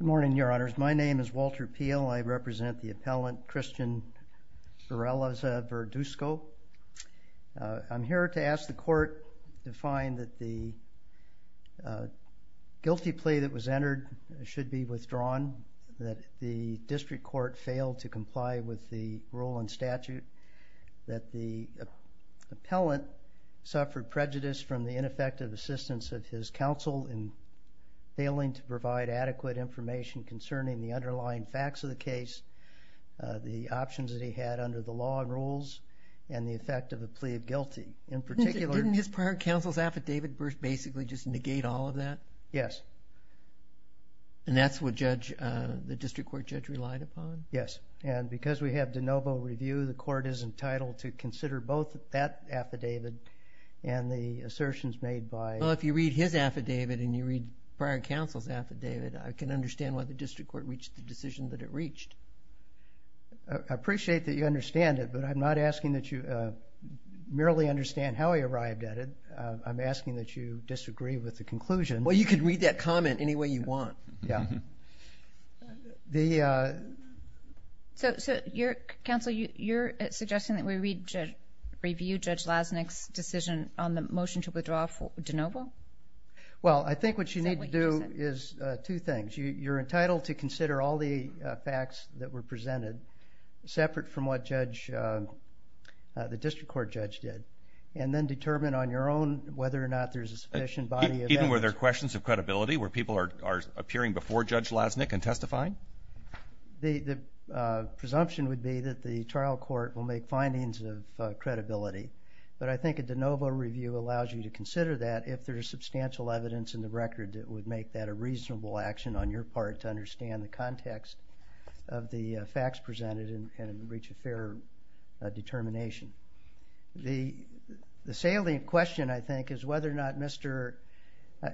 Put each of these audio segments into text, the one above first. Good morning, Your Honors. My name is Walter Peel. I represent the appellant Cristian Berrelleza-Verduzco. I'm here to ask the Court to find that the guilty plea that was entered should be withdrawn, that the District Court failed to comply with the rule and statute, that the appellant suffered prejudice from the ineffective assistance of his counsel in failing to provide adequate information concerning the underlying facts of the case, the options that he had under the law and rules, and the effect of a plea of guilty. In particular... Didn't his prior counsel's affidavit basically just negate all of that? Yes. And that's what the District Court judge relied upon? Yes. And because we have de novo review, the Court is entitled to consider both that affidavit and the assertions made by... Well, if you read his affidavit and you read prior counsel's affidavit, I can understand why the District Court reached the decision that it reached. I appreciate that you understand it, but I'm not asking that you merely understand how he arrived at it. I'm asking that you disagree with the conclusion. Well, you can read that comment any way you want. Counsel, you're suggesting that we review Judge Lasnik's decision on the motion to withdraw for de novo? Well, I think what you need to do is two things. You're entitled to consider all the facts that were presented, separate from what the District Court judge did, and then determine on your own whether or not there's a sufficient body of evidence... The presumption would be that the trial court will make findings of credibility, but I think a de novo review allows you to consider that if there's substantial evidence in the record that would make that a reasonable action on your part to understand the context of the facts presented and reach a fair determination. The salient question, I think, is whether or not Mr....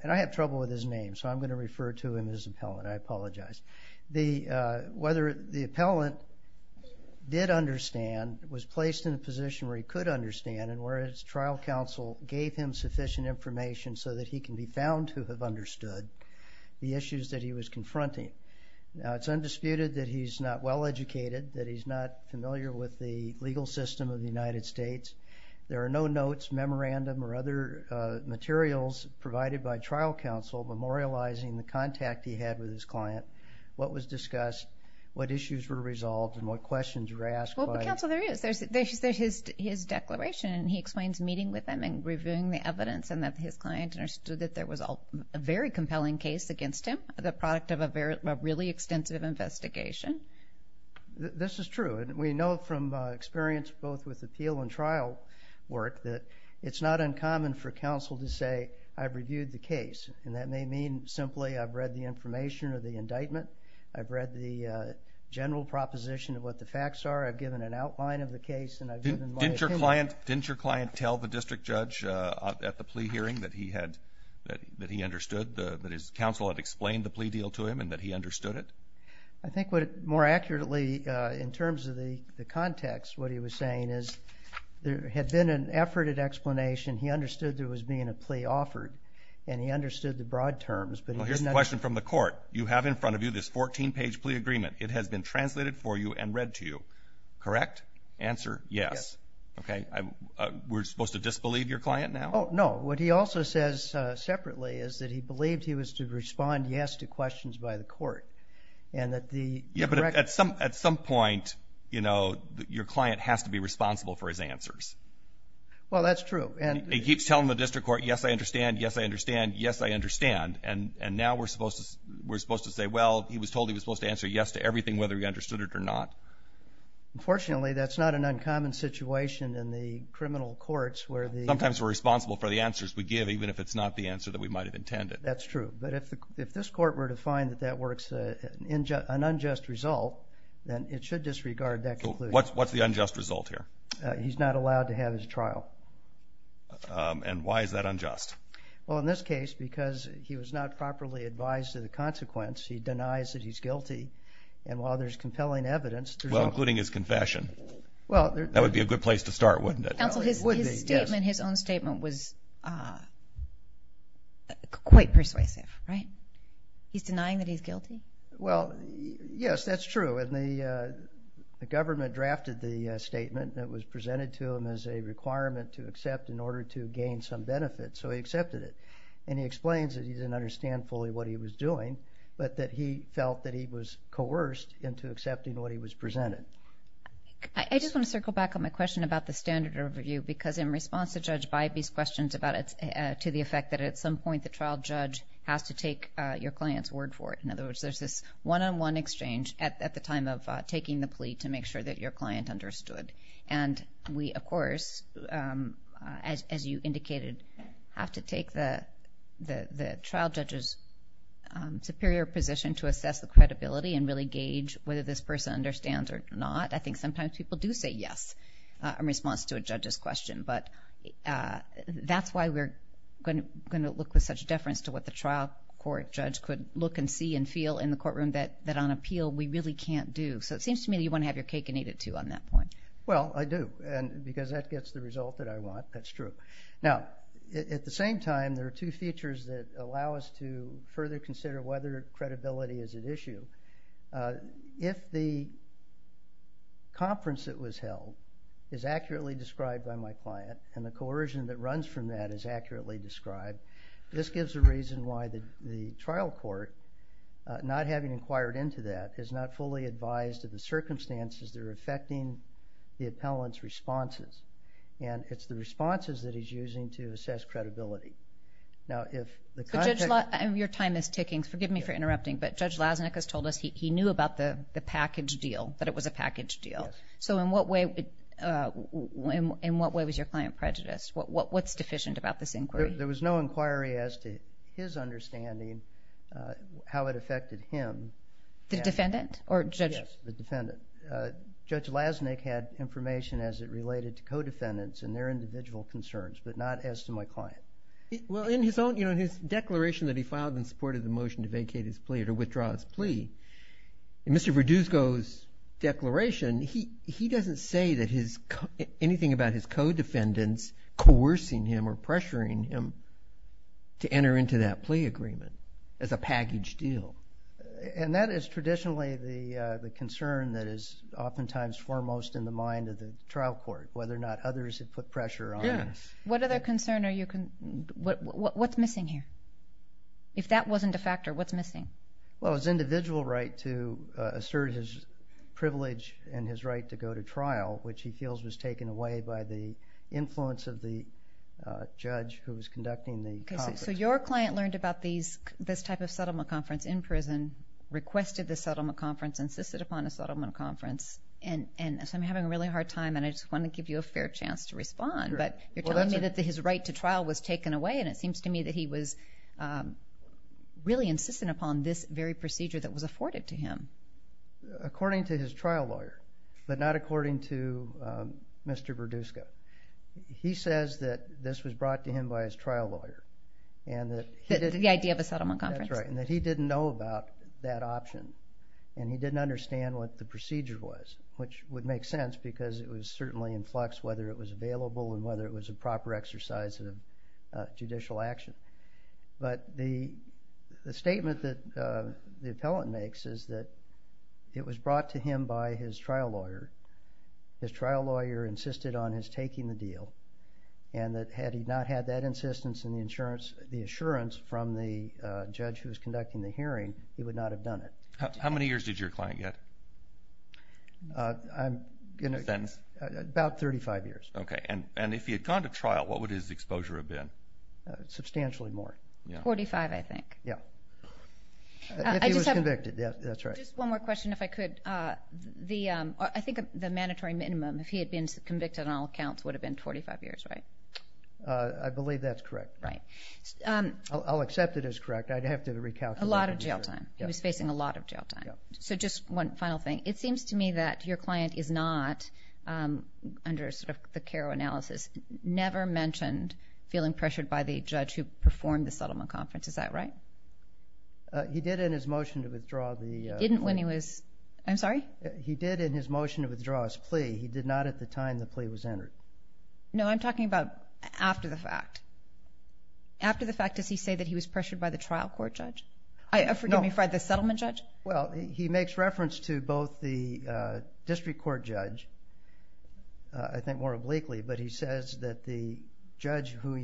And I have trouble with his appellant. I apologize. Whether the appellant did understand, was placed in a position where he could understand, and where his trial counsel gave him sufficient information so that he can be found to have understood the issues that he was confronting. Now, it's undisputed that he's not well-educated, that he's not familiar with the legal system of the United States. There are no notes, memorandum, or other materials provided by him that he had with his client. What was discussed, what issues were resolved, and what questions were asked by... Well, but counsel, there is. There's his declaration, and he explains meeting with him and reviewing the evidence, and that his client understood that there was a very compelling case against him, the product of a really extensive investigation. This is true, and we know from experience both with appeal and trial work that it's not uncommon for counsel to say, I've reviewed the case, and that may mean simply I've read the information of the indictment, I've read the general proposition of what the facts are, I've given an outline of the case, and I've given my opinion. Didn't your client tell the district judge at the plea hearing that he understood, that his counsel had explained the plea deal to him, and that he understood it? I think more accurately, in terms of the context, what he was saying is there had been an effort at explanation, he understood there was being a plea offered, and he understood the broad terms, but he did not... I have a question from the court. You have in front of you this 14-page plea agreement. It has been translated for you and read to you, correct? Answer, yes. Yes. Okay. We're supposed to disbelieve your client now? Oh, no. What he also says separately is that he believed he was to respond yes to questions by the court, and that the... Yeah, but at some point, you know, your client has to be responsible for his answers. Well, that's true, and... He keeps telling the district court, yes, I understand, yes, I understand, yes, I understand, and now we're supposed to say, well, he was told he was supposed to answer yes to everything, whether he understood it or not. Unfortunately, that's not an uncommon situation in the criminal courts where the... Sometimes we're responsible for the answers we give, even if it's not the answer that we might have intended. That's true, but if this court were to find that that works an unjust result, then it should disregard that conclusion. What's the unjust result here? He's not allowed to have his trial. And why is that unjust? Well, in this case, because he was not properly advised of the consequence, he denies that he's guilty, and while there's compelling evidence... Well, including his confession. Well, there... That would be a good place to start, wouldn't it? It would be, yes. Counsel, his statement, his own statement was quite persuasive, right? He's denying that he's guilty? Well, yes, that's true, and the government drafted the statement that was presented to him as a requirement to accept in order to gain some benefit, so he accepted it, and he explains that he didn't understand fully what he was doing, but that he felt that he was coerced into accepting what he was presented. I just want to circle back on my question about the standard of review, because in response to Judge Bybee's questions about it's... To the effect that at some point, the trial judge has to take your client's word for it. In other words, there's this one-on-one exchange at the time of taking the plea to make sure that your client understood. And we, of course, as you indicated, have to take the trial judge's superior position to assess the credibility and really gauge whether this person understands or not. I think sometimes people do say yes in response to a judge's question, but that's why we're going to look with such deference to what the trial court judge could look and see and feel in the courtroom that on appeal, we really can't do. So it seems to me that you want to have your cake and eat it, too, on that point. Well, I do, because that gets the result that I want. That's true. Now, at the same time, there are two features that allow us to further consider whether credibility is at issue. If the conference that was held is accurately described by my client, and the coercion that runs from that is accurately described, this gives a reason why the trial court, not having inquired into that, is not fully advised of the circumstances that are affecting the appellant's responses. And it's the responses that he's using to assess credibility. Now, if the context... Your time is ticking. Forgive me for interrupting, but Judge Lasnik has told us he knew about the package deal, that it was a package deal. So in what way was your client prejudiced? What's deficient about this inquiry? There was no inquiry as to his understanding, how it affected him. The defendant? Or Judge... Yes, the defendant. Judge Lasnik had information as it related to co-defendants and their individual concerns, but not as to my client. Well, in his declaration that he filed in support of the motion to vacate his plea or to withdraw his plea, in Mr. Verduzco's declaration, he doesn't say anything about his co-defendants coercing him or pressuring him to enter into that plea agreement as a package deal. And that is traditionally the concern that is oftentimes foremost in the mind of the trial court, whether or not others have put pressure on him. What other concern are you... What's missing here? If that wasn't a factor, what's missing? Well, his individual right to assert his privilege and his right to go to trial, which he feels was taken away by the influence of the judge who was conducting the conference. Okay, so your client learned about this type of settlement conference in prison, requested the settlement conference, insisted upon a settlement conference, and so I'm having a really hard time and I just want to give you a fair chance to respond, but you're telling me that his right to trial was taken away and it seems to me that he was really insistent upon this very procedure that was afforded to him. According to his trial lawyer, but not according to Mr. Verdusco, he says that this was brought to him by his trial lawyer and that he didn't know about that option and he didn't understand what the procedure was, which would make sense because it was certainly in flux whether it was available and whether it was a proper exercise of judicial action. But the statement that the appellant makes is that it was brought to him by his trial lawyer. His trial lawyer insisted on his taking the deal and that had he not had that insistence and the assurance from the judge who was conducting the hearing, he would not have done it. How many years did your client get? About 35 years. Okay, and if he had gone to trial, what would his exposure have been? Substantially more. Forty-five, I think. Yeah. If he was convicted. That's right. Just one more question, if I could. I think the mandatory minimum, if he had been convicted on all counts, would have been 45 years, right? I believe that's correct. Right. I'll accept it as correct. I'd have to recalculate. A lot of jail time. He was facing a lot of jail time. So just one final thing. It seems to me that your client is not, under sort of the CARO analysis, never mentioned feeling pressured by the judge who performed the settlement conference. Is that right? He did in his motion to withdraw the plea. He didn't when he was, I'm sorry? He did in his motion to withdraw his plea. He did not at the time the plea was entered. No, I'm talking about after the fact. After the fact, does he say that he was pressured by the trial court judge? No. Forgive me, by the settlement judge? Well, he makes reference to both the district court judge, I think more obliquely, but he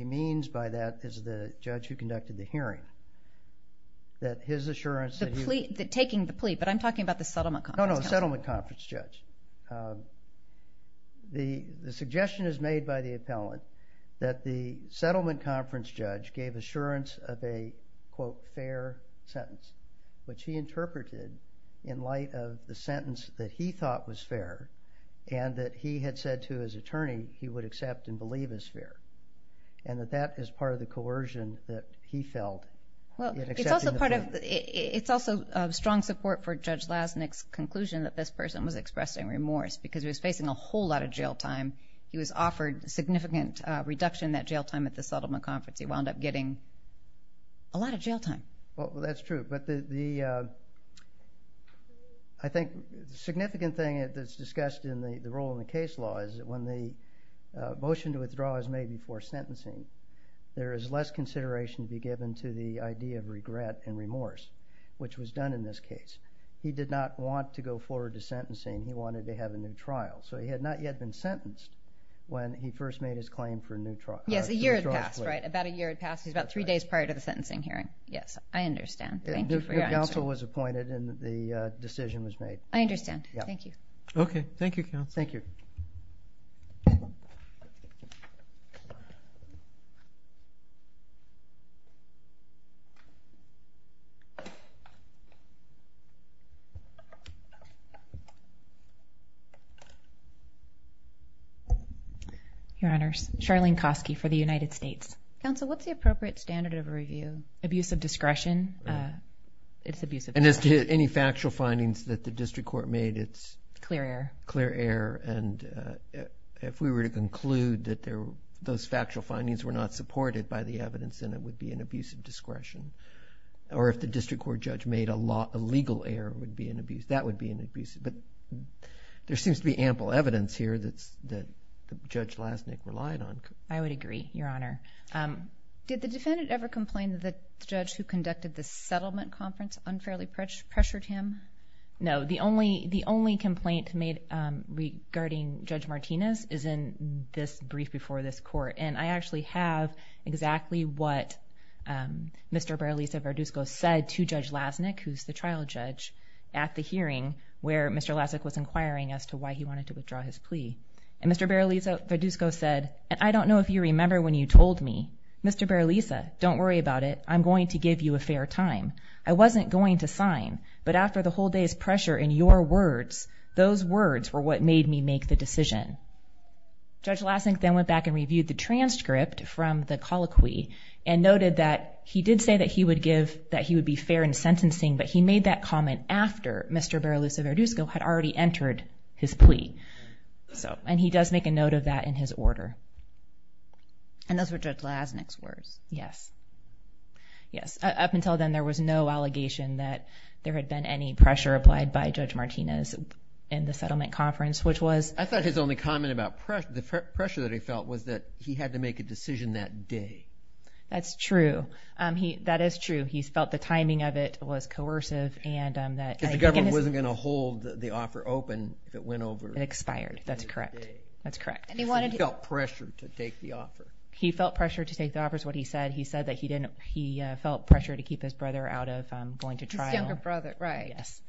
means by that is the judge who conducted the hearing. That his assurance that he... The plea. Taking the plea, but I'm talking about the settlement conference. No, no. Settlement conference judge. The suggestion is made by the appellant that the settlement conference judge gave assurance of a, quote, fair sentence, which he interpreted in light of the sentence that he thought was fair, and that that is part of the coercion that he felt in accepting the plea. It's also strong support for Judge Lasnik's conclusion that this person was expressing remorse because he was facing a whole lot of jail time. He was offered significant reduction in that jail time at the settlement conference. He wound up getting a lot of jail time. That's true, but I think the significant thing that's discussed in the role in the case law is that when the motion to withdraw is made before sentencing, there is less consideration to be given to the idea of regret and remorse, which was done in this case. He did not want to go forward to sentencing. He wanted to have a new trial, so he had not yet been sentenced when he first made his claim for a new trial. Yes, a year had passed, right? About a year had passed. It was about three days prior to the sentencing hearing. Yes, I understand. Thank you for your answer. The counsel was appointed and the decision was made. I understand. Thank you. Okay. Thank you, counsel. Thank you. Your Honors, Charlene Kosky for the United States. Counsel, what's the appropriate standard of review? Abuse of discretion. It's abuse of discretion. And as to any factual findings that the district court made, it's? Clear error. Clear error, and if we were to conclude that those factual findings were not supported by the evidence, then it would be an abuse of discretion. Or if the district court judge made a legal error, that would be an abuse. But there seems to be ample evidence here that Judge Lasnik relied on. I would agree, Your Honor. Did the defendant ever complain that the judge who conducted the settlement conference unfairly pressured him? No. The only complaint made regarding Judge Martinez is in this brief before this court. And I actually have exactly what Mr. Barilisa Varduzco said to Judge Lasnik, who's the trial judge, at the hearing where Mr. Lasnik was inquiring as to why he wanted to withdraw his plea. And Mr. Barilisa Varduzco said, and I don't know if you remember when you told me, Mr. Barilisa, don't worry about it, I'm going to give you a fair time. I wasn't going to sign, but after the whole day's pressure in your words, those words were what made me make the decision. Judge Lasnik then went back and reviewed the transcript from the colloquy and noted that he did say that he would give, that he would be fair in sentencing, but he made that comment after Mr. Barilisa Varduzco had already entered his plea. And he does make a note of that in his order. And those were Judge Lasnik's words? Yes. Yes. Up until then, there was no allegation that there had been any pressure applied by Judge Martinez in the settlement conference, which was I thought his only comment about pressure, the pressure that he felt was that he had to make a decision that day. That's true. That is true. He felt the timing of it was coercive and that The government wasn't going to hold the offer open if it went over It expired. That's correct. That's correct. And he wanted to He felt pressure to take the offer. He felt pressure to take the offer is what he said. He said that he didn't. He felt pressure to keep his brother out of going to trial. His younger brother. Right. Yes.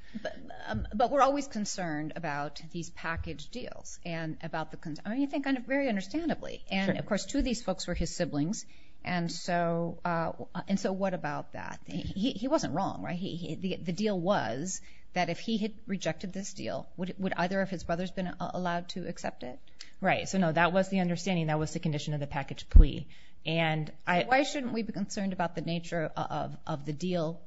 But we're always concerned about these package deals and about the concern. I mean, you think very understandably. Sure. And of course, two of these folks were his siblings. And so what about that? He wasn't wrong, right? The deal was that if he had rejected this deal, would either of his brothers been allowed to accept it? Right. So no, that was the understanding. That was the condition of the package plea. And why shouldn't we be concerned about the nature of the deal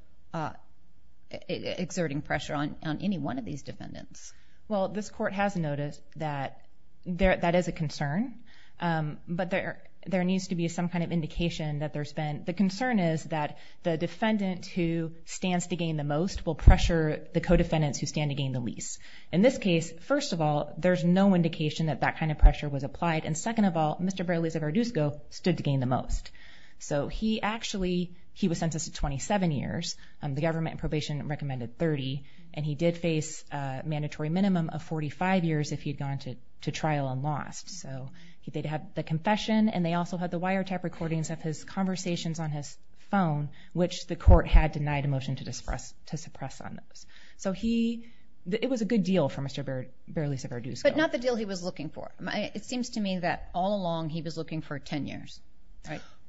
exerting pressure on any one of these defendants? Well, this court has noticed that there that is a concern. But there there needs to be some kind of indication that there's been the concern is that the defendant who stands to gain the most will pressure the co-defendants who stand to gain the least. In this case, first of all, there's no indication that that kind of pressure was applied. And second of all, Mr. Baralisa-Varduzco stood to gain the most. So he actually he was sentenced to 27 years. The government probation recommended 30. And he did face a mandatory minimum of 45 years if he'd gone to trial and lost. So he did have the confession and they also had the wiretap recordings of his conversations on his phone, which the court had denied a motion to disperse to suppress on those. So he it was a good deal for Mr. Baralisa-Varduzco. But not the deal he was looking for. It seems to me that all along he was looking for 10 years.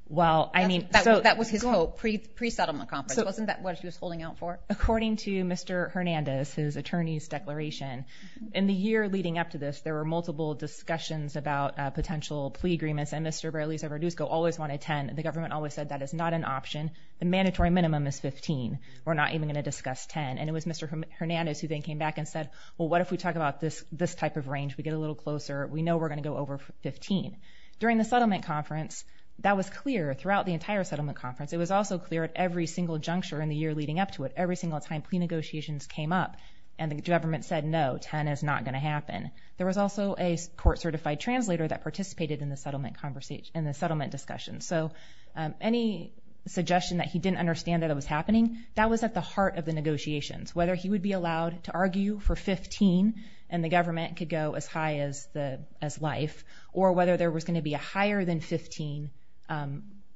Well, I mean, that was his hope pre-settlement conference. Wasn't that what he was holding out for? According to Mr. Hernandez, his attorney's declaration in the year leading up to this, there were multiple discussions about potential plea agreements. And Mr. Baralisa-Varduzco always wanted 10. And the government always said that is not an option. The mandatory minimum is 15. We're not even going to discuss 10. And it was Mr. Hernandez who then came back and said, well, what if we talk about this this type of range? We get a little closer. We know we're going to go over 15. During the settlement conference, that was clear throughout the entire settlement conference. It was also clear at every single juncture in the year leading up to it. Every single time plea negotiations came up and the government said, no, 10 is not going to happen. There was also a court certified translator that participated in the settlement conversation, in the settlement discussion. So any suggestion that he didn't understand that it was happening, that was at the heart of the negotiations. Whether he would be allowed to argue for 15 and the government could go as life, or whether there was going to be a higher than 15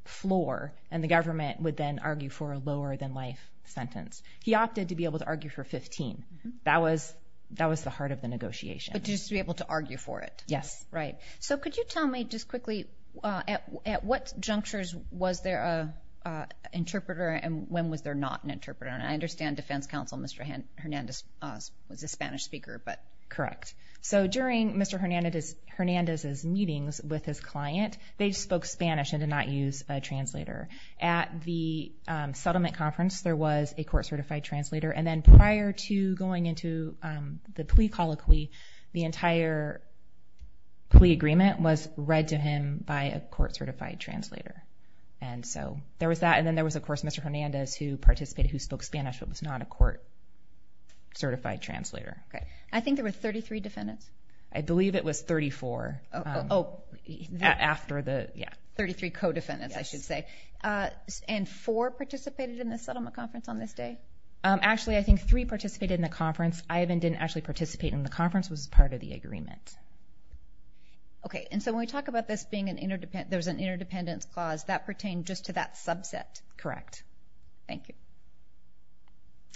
floor and the government would then argue for a lower than life sentence. He opted to be able to argue for 15. That was the heart of the negotiation. But just to be able to argue for it. Yes. Right. So could you tell me just quickly, at what junctures was there a interpreter and when was there not an interpreter? And I understand defense counsel, Mr. Hernandez was a Spanish speaker, but. Correct. So during Mr. Hernandez's meetings with his client, they spoke Spanish and did not use a translator. At the settlement conference, there was a court certified translator. And then prior to going into the plea colloquy, the entire plea agreement was read to him by a court certified translator. And so there was that. And then there was, of course, Mr. Hernandez who participated, who spoke Spanish, but was not a court certified translator. Okay. I think there were 33 defendants. I believe it was 34 after the 33 co-defendants, I should say, and four participated in the settlement conference on this day. Actually, I think three participated in the conference. Ivan didn't actually participate in the conference, was part of the agreement. Okay. And so when we talk about this being an interdependent, there was an interdependence clause that pertained just to that subset. Correct. Thank you.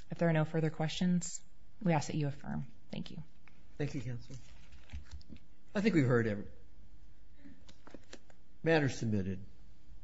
If there are no further questions, we ask that you affirm. Thank you. Thank you, Counselor. I think we've heard everything. Matter submitted.